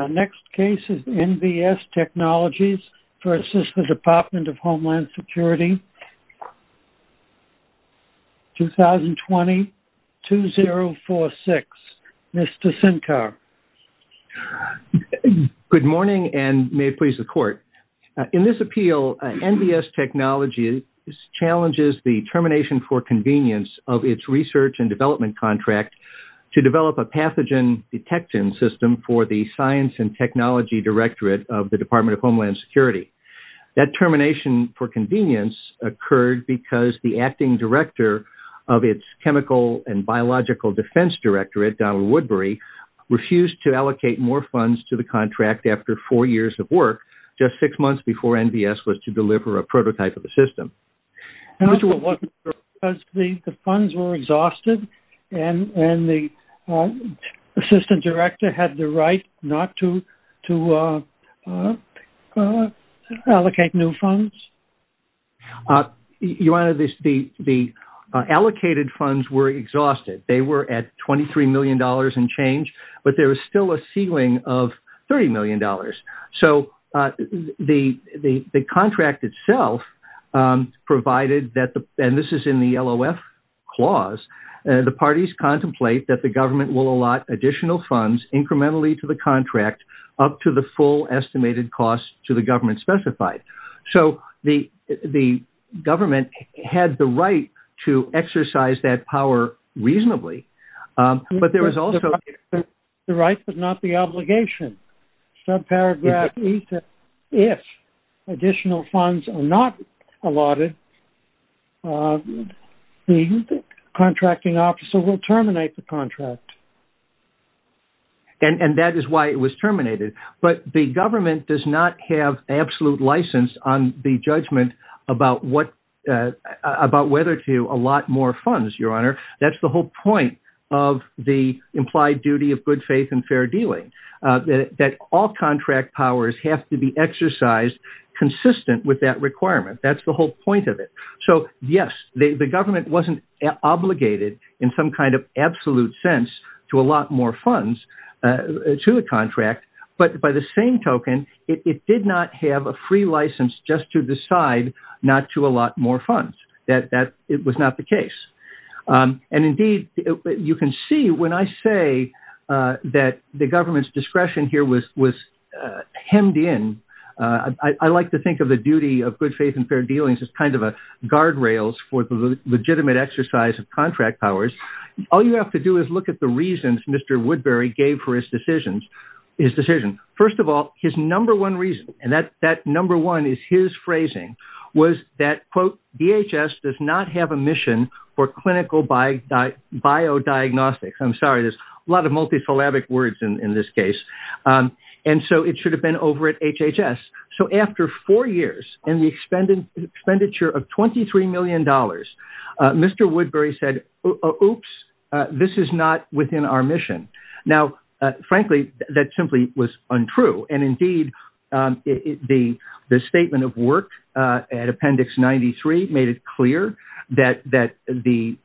Our next case is NVS Technologies v. Department of Homeland Security, 2020-2046. Mr. Sinkar. Good morning and may it please the Court. In this appeal, NVS Technologies challenges the termination for convenience of its research and development contract to develop a pathogen detection system for the Science and Technology Directorate of the Department of Homeland Security. That termination for convenience occurred because the acting director of its Chemical and Biological Defense Directorate, Donald Woodbury, refused to allocate more funds to the contract after four years of work, just six months before NVS was to deliver a prototype of the system. The funds were exhausted and the assistant director had the right not to allocate new funds? Your Honor, the allocated funds were exhausted. They were at $23 million in change, but there was still a ceiling of $30 million. So the contract itself provided that, and this is in the LOF clause, the parties contemplate that the government will allot additional funds incrementally to the contract up to the full estimated cost to the government specified. So the government had the right to exercise that power reasonably, but there was also the right, but not the obligation. Subparagraph, if additional funds are not allotted, the contracting officer will terminate the contract. And that is why it was terminated. But the government does not have absolute license on the judgment about whether to allot more funds, Your Honor. That's the whole point of the implied duty of good faith and fair dealing, that all contract powers have to be exercised consistent with that requirement. That's the whole point of it. So yes, the government wasn't obligated in some kind of absolute sense to allot more funds to a contract, but by the same token, it did not have a free license just to decide not to allot more funds. That was not the case. And indeed, you can see when I say that the government's discretion here was hemmed in, I like to think of the duty of good faith and fair dealings as kind of a guardrails for the All you have to do is look at the reasons Mr. Woodbury gave for his decisions, his decision. First of all, his number one reason, and that number one is his phrasing, was that, quote, DHS does not have a mission for clinical biodiagnostics. I'm sorry, there's a lot of multisyllabic words in this case. And so it should have been over at HHS. So after four years and the expenditure of $23 million, Mr. Woodbury said, oops, this is not within our mission. Now, frankly, that simply was untrue. And indeed, the statement of work at Appendix 93 made it clear that the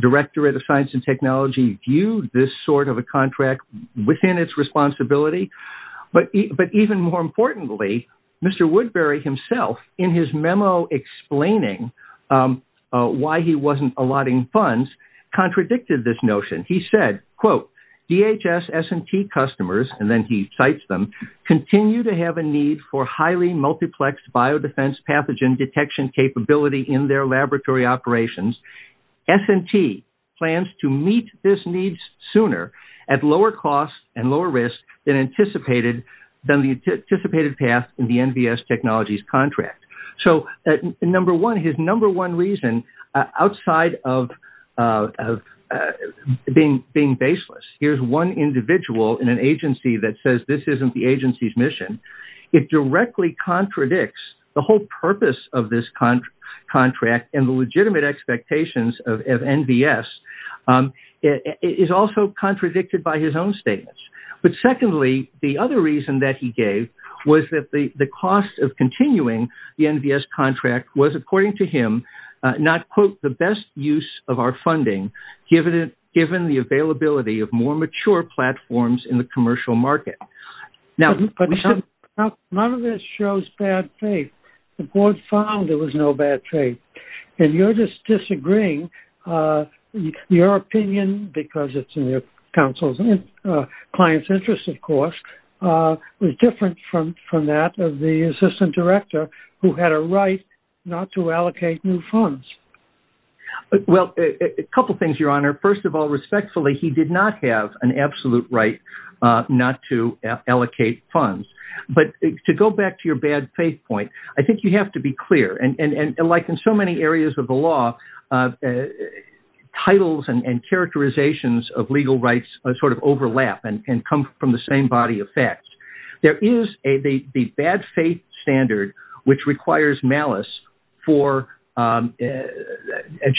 Directorate of Science and Technology viewed this sort of a contract within its memo explaining why he wasn't allotting funds contradicted this notion. He said, quote, DHS S&T customers, and then he cites them, continue to have a need for highly multiplex biodefense pathogen detection capability in their laboratory operations. S&T plans to meet this need sooner at lower cost and lower risk than anticipated, than the anticipated path in the NVS technologies contract. So his number one reason outside of being baseless, here's one individual in an agency that says this isn't the agency's mission. It directly contradicts the whole purpose of this contract and the legitimate expectations of NVS. It is also contradicted by his own statements. But secondly, the other reason that he gave was that the cost of continuing the NVS contract was, according to him, not, quote, the best use of our funding, given the availability of more mature platforms in the commercial market. Now, none of this shows bad faith. The board found there was no bad faith. And you're just disagreeing, your opinion, because it's in counsel's and client's interest, of course, was different from that of the assistant director, who had a right not to allocate new funds. Well, a couple things, your honor. First of all, respectfully, he did not have an absolute right not to allocate funds. But to go back to your bad faith point, I think you have to be clear. And like in so many areas of the law, the titles and characterizations of legal rights sort of overlap and come from the same body of facts. There is a bad faith standard, which requires malice for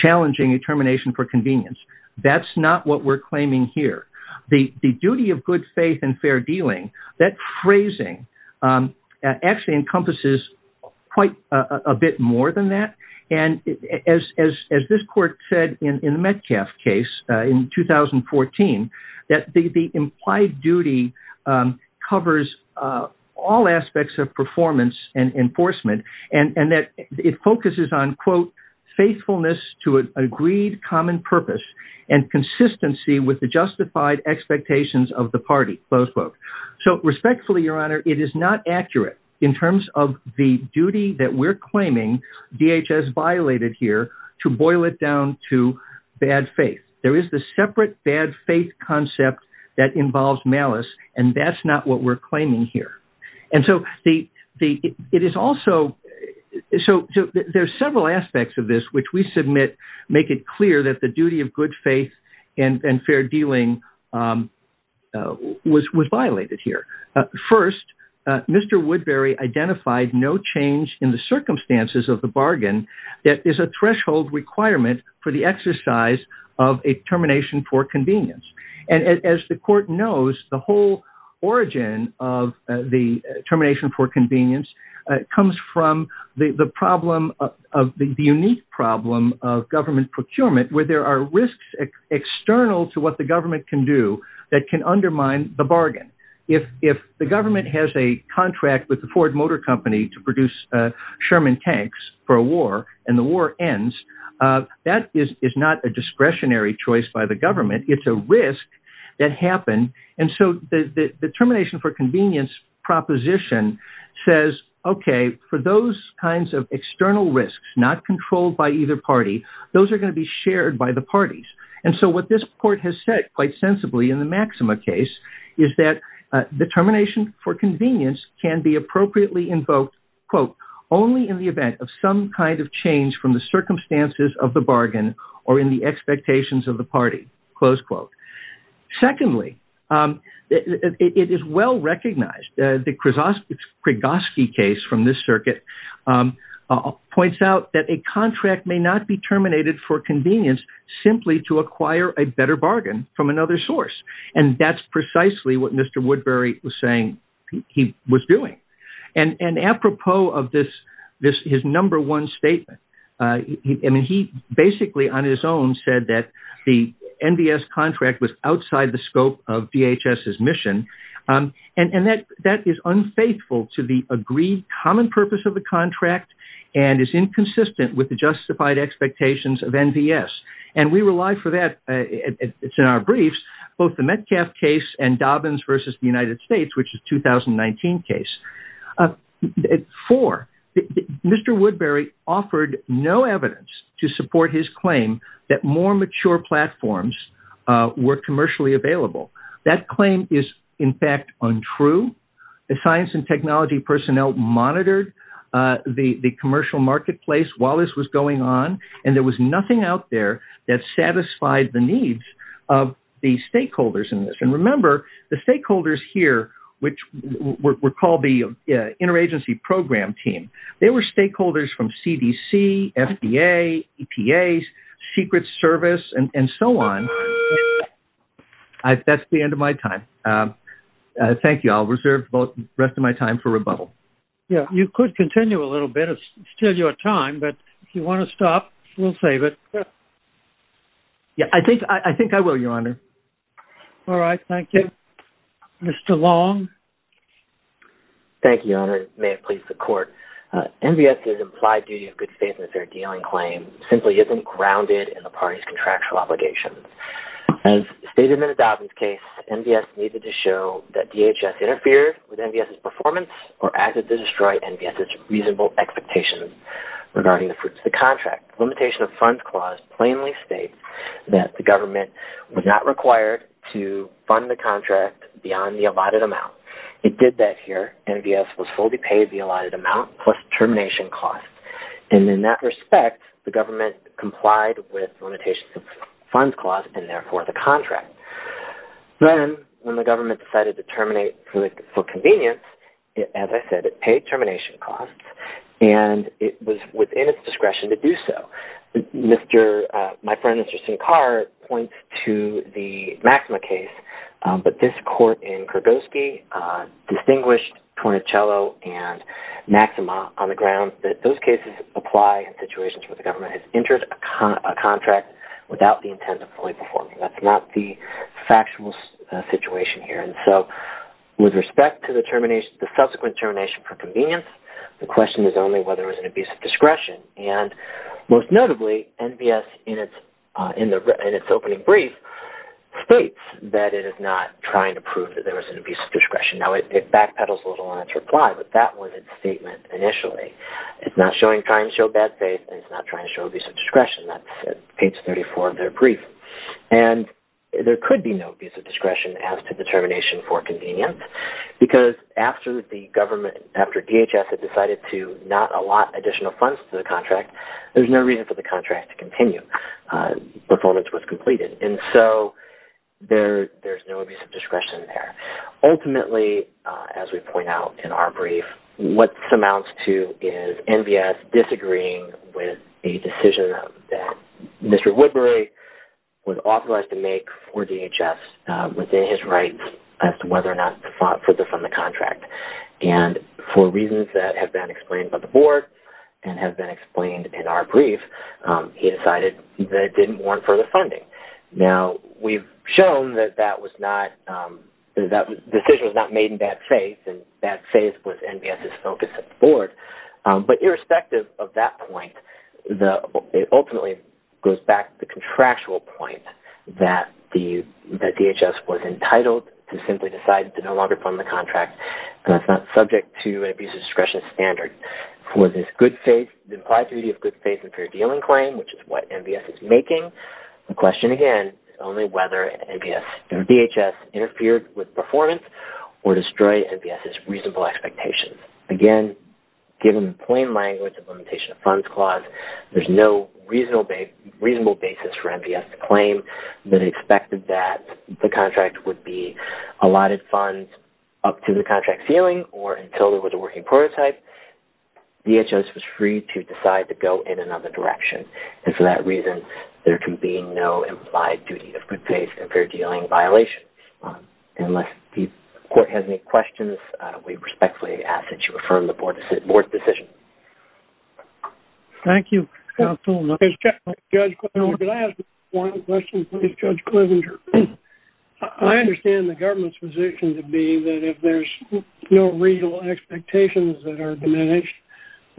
challenging a termination for convenience. That's not what we're claiming here. The duty of good faith and fair dealing, that phrasing actually encompasses quite a bit more than that. And as this court said in the Metcalfe case in 2014, that the implied duty covers all aspects of performance and enforcement, and that it focuses on, quote, faithfulness to an agreed common purpose and consistency with justified expectations of the party, close quote. So respectfully, your honor, it is not accurate in terms of the duty that we're claiming DHS violated here to boil it down to bad faith. There is the separate bad faith concept that involves malice, and that's not what we're claiming here. And so it is also, so there's several aspects of this, which we submit, make it clear that the duty of good faith and fair dealing was violated here. First, Mr. Woodbury identified no change in the circumstances of the bargain that is a threshold requirement for the exercise of a termination for convenience. And as the court knows, the whole origin of the termination for convenience comes from the problem of the unique problem of government procurement, where there are risks external to what the government can do that can undermine the bargain. If the government has a contract with the Ford Motor Company to produce Sherman tanks for a war and the war ends, that is not a discretionary choice by the government. It's a risk that happened. And so the termination for convenience proposition says, okay, for those kinds of external risks, not controlled by either party, those are going to be shared by the parties. And so what this court has said quite sensibly in the Maxima case is that determination for convenience can be appropriately invoked, quote, only in the event of some kind of change from the circumstances of the bargain or in the expectations of the party, close quote. Secondly, it is well-recognized, the Krigoski case from this circuit points out that a contract may not be terminated for convenience simply to acquire a better bargain from another source. And that's precisely what Mr. Woodbury was saying he was doing. And apropos of this, his number one statement, I mean, he basically on his own said that the NDS contract was outside the scope of DHS's mission. And that is unfaithful to the agreed common purpose of the contract and is inconsistent with the justified expectations of NDS. And we rely for that, it's in our briefs, both the Metcalf case and Dobbins versus the United States, which is 2019 case. Four, Mr. Woodbury offered no evidence to support his claim that more mature platforms were commercially available. That claim is, in fact, untrue. The science and technology personnel monitored the commercial marketplace while this was going on, and there was nothing out there that satisfied the needs of the stakeholders in this. And remember, the stakeholders here, which were called the interagency program team, they were stakeholders from CDC, FDA, EPA, Secret Service, and so on. That's the end of my time. Thank you. I'll reserve the rest of my time for rebuttal. Yeah, you could continue a little bit, it's still your time, but if you want to stop, we'll save it. Yeah, I think I will, Your Honor. All right, thank you. Mr. Long. Thank you, Your Honor. It may have pleased the court. NDS's implied duty of good faith in a fair deal and claim simply isn't grounded in the party's contractual obligations. As stated in the Dobbins case, NDS needed to show that DHS interfered with NDS's performance or acted to destroy NDS's reasonable expectations regarding the fruits of the contract. The Limitation of Funds Clause plainly states that the government was not required to fund the contract beyond the allotted amount. It did that here. NDS was fully paid the allotted amount plus termination costs. And in that respect, the government complied with the Limitation of Funds Clause and therefore the contract. Then, when the government decided to terminate for convenience, as I said, it paid termination costs and it was within its discretion to do so. Mr. — my friend, Mr. Sincar, points to the Maxima case. But this court in Kurgoski distinguished Tornicello and Maxima on the grounds that those cases apply in situations where the government has entered a contract without the intent of fully performing. That's not the factual situation here. And so, with respect to the subsequent termination for convenience, presumably NDS in its opening brief states that it is not trying to prove that there was an abuse of discretion. Now, it backpedals a little on its reply, but that was its statement initially. It's not trying to show bad faith and it's not trying to show abuse of discretion. That's at page 34 of their brief. And there could be no abuse of discretion as to the termination for convenience because after the government, after DHS had decided to not allot additional funds to the contract, there's no reason for the contract to continue before it was completed. And so, there's no abuse of discretion there. Ultimately, as we point out in our brief, what it amounts to is NDS disagreeing with a decision that Mr. Woodbury was authorized to make for DHS within his rights as to whether or not to fund the contract. And for reasons that have been explained by the board and have been explained in our brief, he decided that it didn't warrant further funding. Now, we've shown that that decision was not made in bad faith and bad faith was NDS' focus at the board. But irrespective of that point, it ultimately goes back to the contractual point that DHS was entitled to simply decide to no longer fund the contract. And that's subject to an abuse of discretion standard. For this good faith, the implied duty of good faith and fair dealing claim, which is what NDS is making, the question again is only whether NDS and DHS interfered with performance or destroyed NDS' reasonable expectations. Again, given the plain language of limitation of funds clause, there's no reasonable basis for NDS' claim that expected that the contract would be allotted funds up to the contract ceiling or until there was a working prototype. DHS was free to decide to go in another direction. And for that reason, there can be no implied duty of good faith and fair dealing violation. Unless the court has any questions, we respectfully ask that you affirm the board's decision. Thank you, counsel. Judge, can I ask one question, please, Judge Klovenger? I understand the government's position to be that if there's no real expectations that are diminished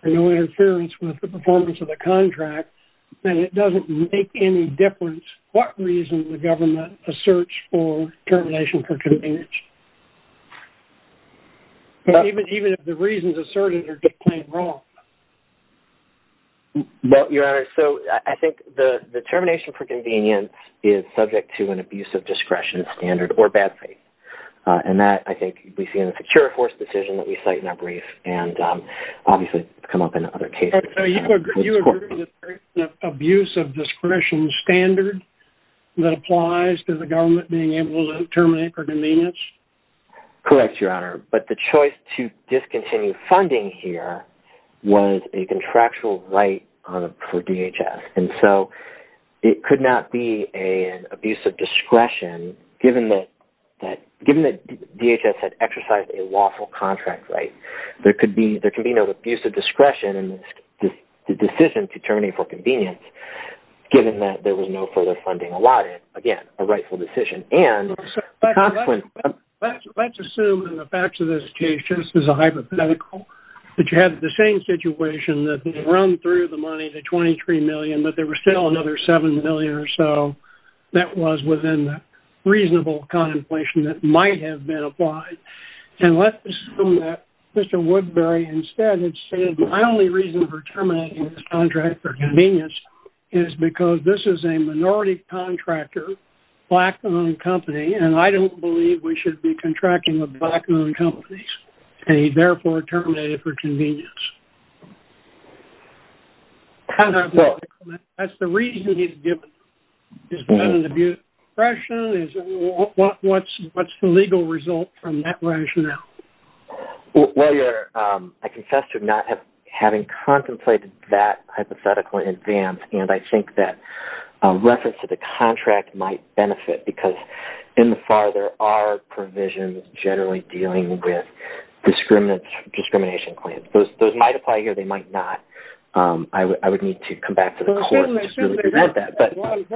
and no interference with the performance of the contract, then it doesn't make any difference what reason the government asserts for termination for convenience. Even if the reasons asserted get claimed wrong. Well, Your Honor, so I think the termination for convenience is subject to an abuse of discretion standard or bad faith. And that, I think, we see in the secure force decision that we cite in our brief and obviously come up in other cases. You agree with the abuse of discretion standard that applies to the government being able to terminate for convenience? Correct, Your Honor. But the choice to discontinue funding here was a contractual right for DHS. And so it could not be an abuse of discretion given that DHS had exercised a lawful contract right. There could be no abuse of discretion in the decision to terminate for convenience given that there was no further funding allotted. Again, a rightful decision. And let's assume in the facts of this case, just as a hypothetical, that you had the same situation that run through the money, the $23 million, but there was still another $7 million or so that was within reasonable contemplation that might have been applied. And let's assume that Mr. Woodbury instead had stated, my only reason for terminating this contract for convenience is because this is a minority contractor, black-owned company, and I don't believe we should be contracting with black-owned companies. And he therefore terminated for convenience. That's the reason he's given. Is that an abuse of discretion? What's the legal result from that rationale? Well, Your Honor, I confess to not having contemplated that hypothetical in advance, and I think that reference to the contract might benefit because in the FAR, there are provisions generally dealing with discrimination claims. Those might apply here. They might not. I would need to come back to the court. What I'm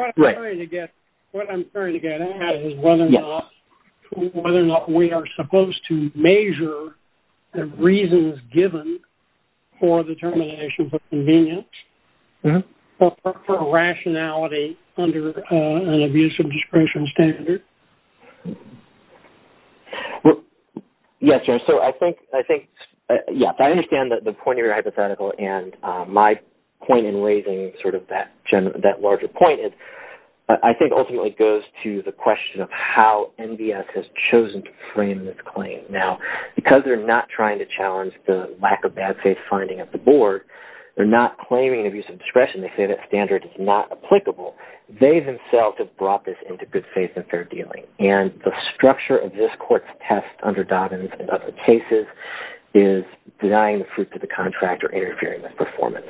trying to get at is whether or not we are supposed to measure the reasons given for the termination for convenience or for rationality under an abuse of discretion standard. Yes, Your Honor. So I think, yes, I understand that the point of your hypothetical and my point in raising sort of that larger point, I think ultimately goes to the question of how NDS has bad faith finding of the board. They're not claiming abuse of discretion. They say that standard is not applicable. They themselves have brought this into good faith and fair dealing. And the structure of this court's test under Dobbins and other cases is denying the fruit to the contractor, interfering with performance.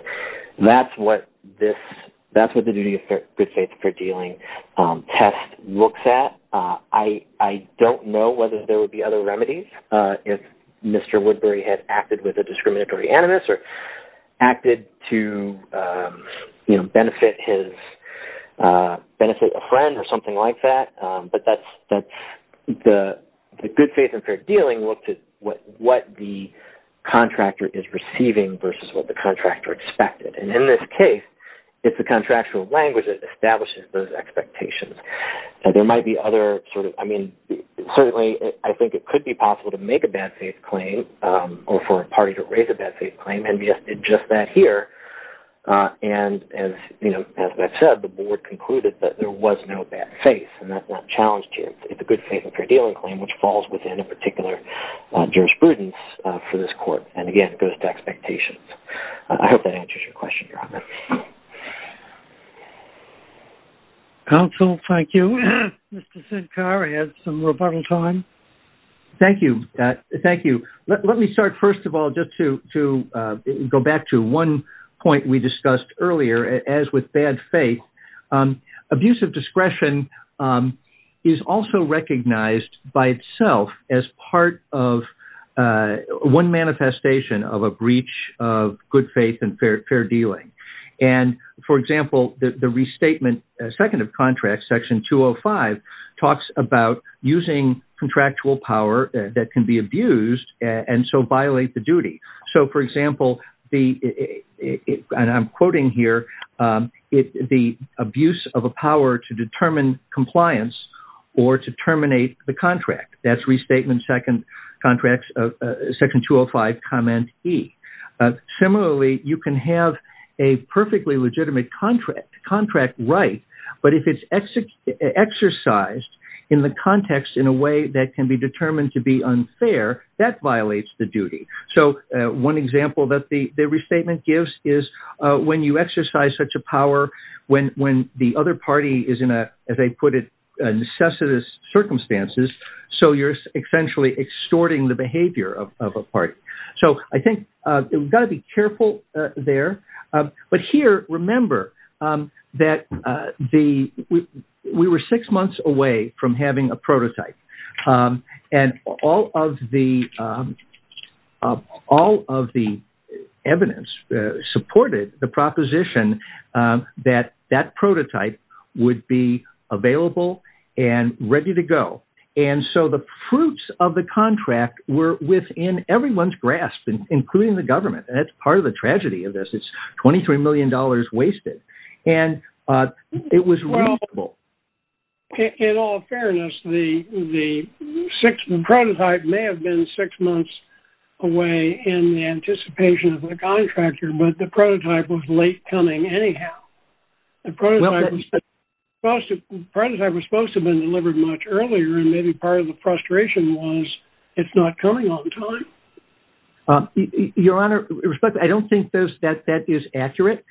That's what the duty of good faith and fair dealing test looks at. I don't know whether there would be other remedies if Mr. Woodbury had acted with a discriminatory animus or acted to, you know, benefit his, benefit a friend or something like that. But that's the good faith and fair dealing looked at what the contractor is receiving versus what the contractor expected. And in this case, it's the contractual language that establishes those expectations. There might be other sort of, I mean, certainly I think it could be possible to for a party to raise a bad faith claim. NDS did just that here. And as you know, as I've said, the board concluded that there was no bad faith and that's not challenged here. It's a good faith and fair dealing claim, which falls within a particular jurisprudence for this court. And again, it goes to expectations. I hope that answers your question, Robert. Counsel, thank you. Mr. Sincar, I have some rebuttal time. Thank you. Thank you. Let me start, first of all, just to go back to one point we discussed earlier, as with bad faith. Abusive discretion is also recognized by itself as part of one manifestation of a breach of good faith and fair dealing. And for example, the restatement, second of contracts, section 205, talks about using contractual power that can be abused and so violate the duty. So for example, and I'm quoting here, the abuse of a power to determine compliance or to terminate the contract. That's restatement, second contracts, section 205, E. Similarly, you can have a perfectly legitimate contract right, but if it's exercised in the context in a way that can be determined to be unfair, that violates the duty. So one example that the restatement gives is when you exercise such a power, when the other party is in a, as I put it, necessitous circumstances, so you're essentially extorting the behavior of a party. So I think we've got to be careful there. But here, remember that we were six months away from having a prototype. And all of the evidence supported the proposition that that prototype would be available and ready to go. And so the fruits of the contract were within everyone's grasp, including the government. And that's part of the tragedy of this. It's $23 million wasted. And it was reasonable. Well, in all fairness, the prototype may have been six months away in the anticipation of a contractor, but the prototype was late coming anyhow. The prototype was supposed to have been delivered much earlier. And maybe part of the frustration was it's not coming on time. Your Honor, I don't think that that is accurate.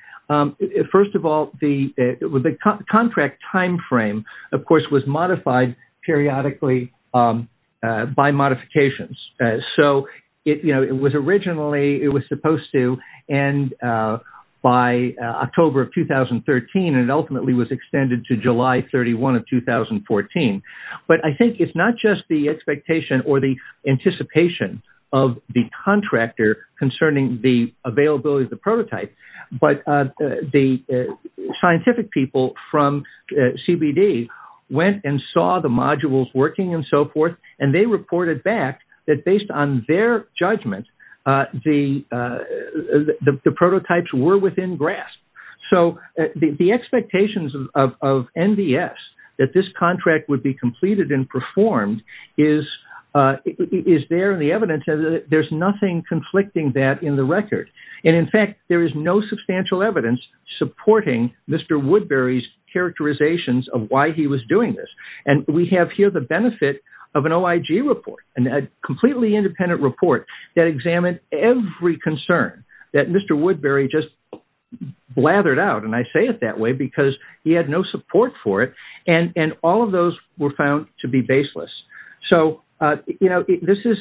First of all, the contract timeframe, of course, was modified periodically by modifications. So it was originally, it was supposed to end by October of 2013, and it ultimately was extended to July 31 of 2014. But I think it's not just the expectation or the anticipation of the contractor concerning the availability of the prototype, but the scientific people from CBD went and saw the modules working and so forth, and they reported back that based on their judgment, the prototypes were within grasp. So the expectations of NDS that this contract would be completed and performed is there in the evidence. There's nothing conflicting that in the record. And in fact, there is no substantial evidence supporting Mr. Woodbury's characterizations of why he was doing this. And we have here the benefit of an OIG report, a completely independent report that examined every concern that Mr. Woodbury just blathered out, and I say it that way because he had no support for it. And all of those were found to be baseless. So, you know, this is,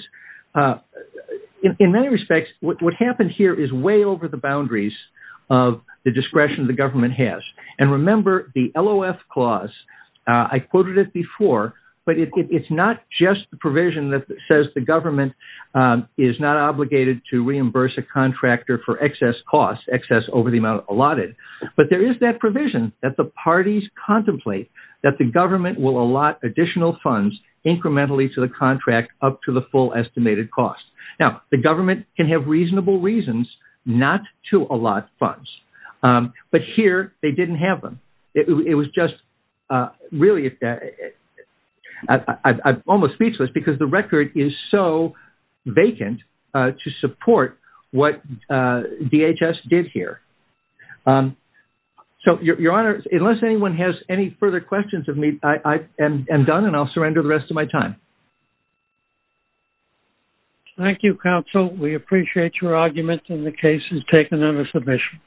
in many respects, what happened here is way over the boundaries of the discretion the government has. And remember, the LOF clause, I quoted it before, but it's not just the provision that says the government is not obligated to reimburse a contractor for excess costs, excess over the amount allotted, but there is that provision that the parties contemplate that the government will allot additional funds incrementally to the contract up to the full estimated cost. Now, the government can have reasonable reasons not to allot funds, but here they didn't have them. It was just really, I'm almost speechless because the record is so vacant to support what DHS did here. So, your honor, unless anyone has any further questions of me, I am done and I'll surrender the rest of my time. Thank you, counsel. We appreciate your argument and the case is taken under submission.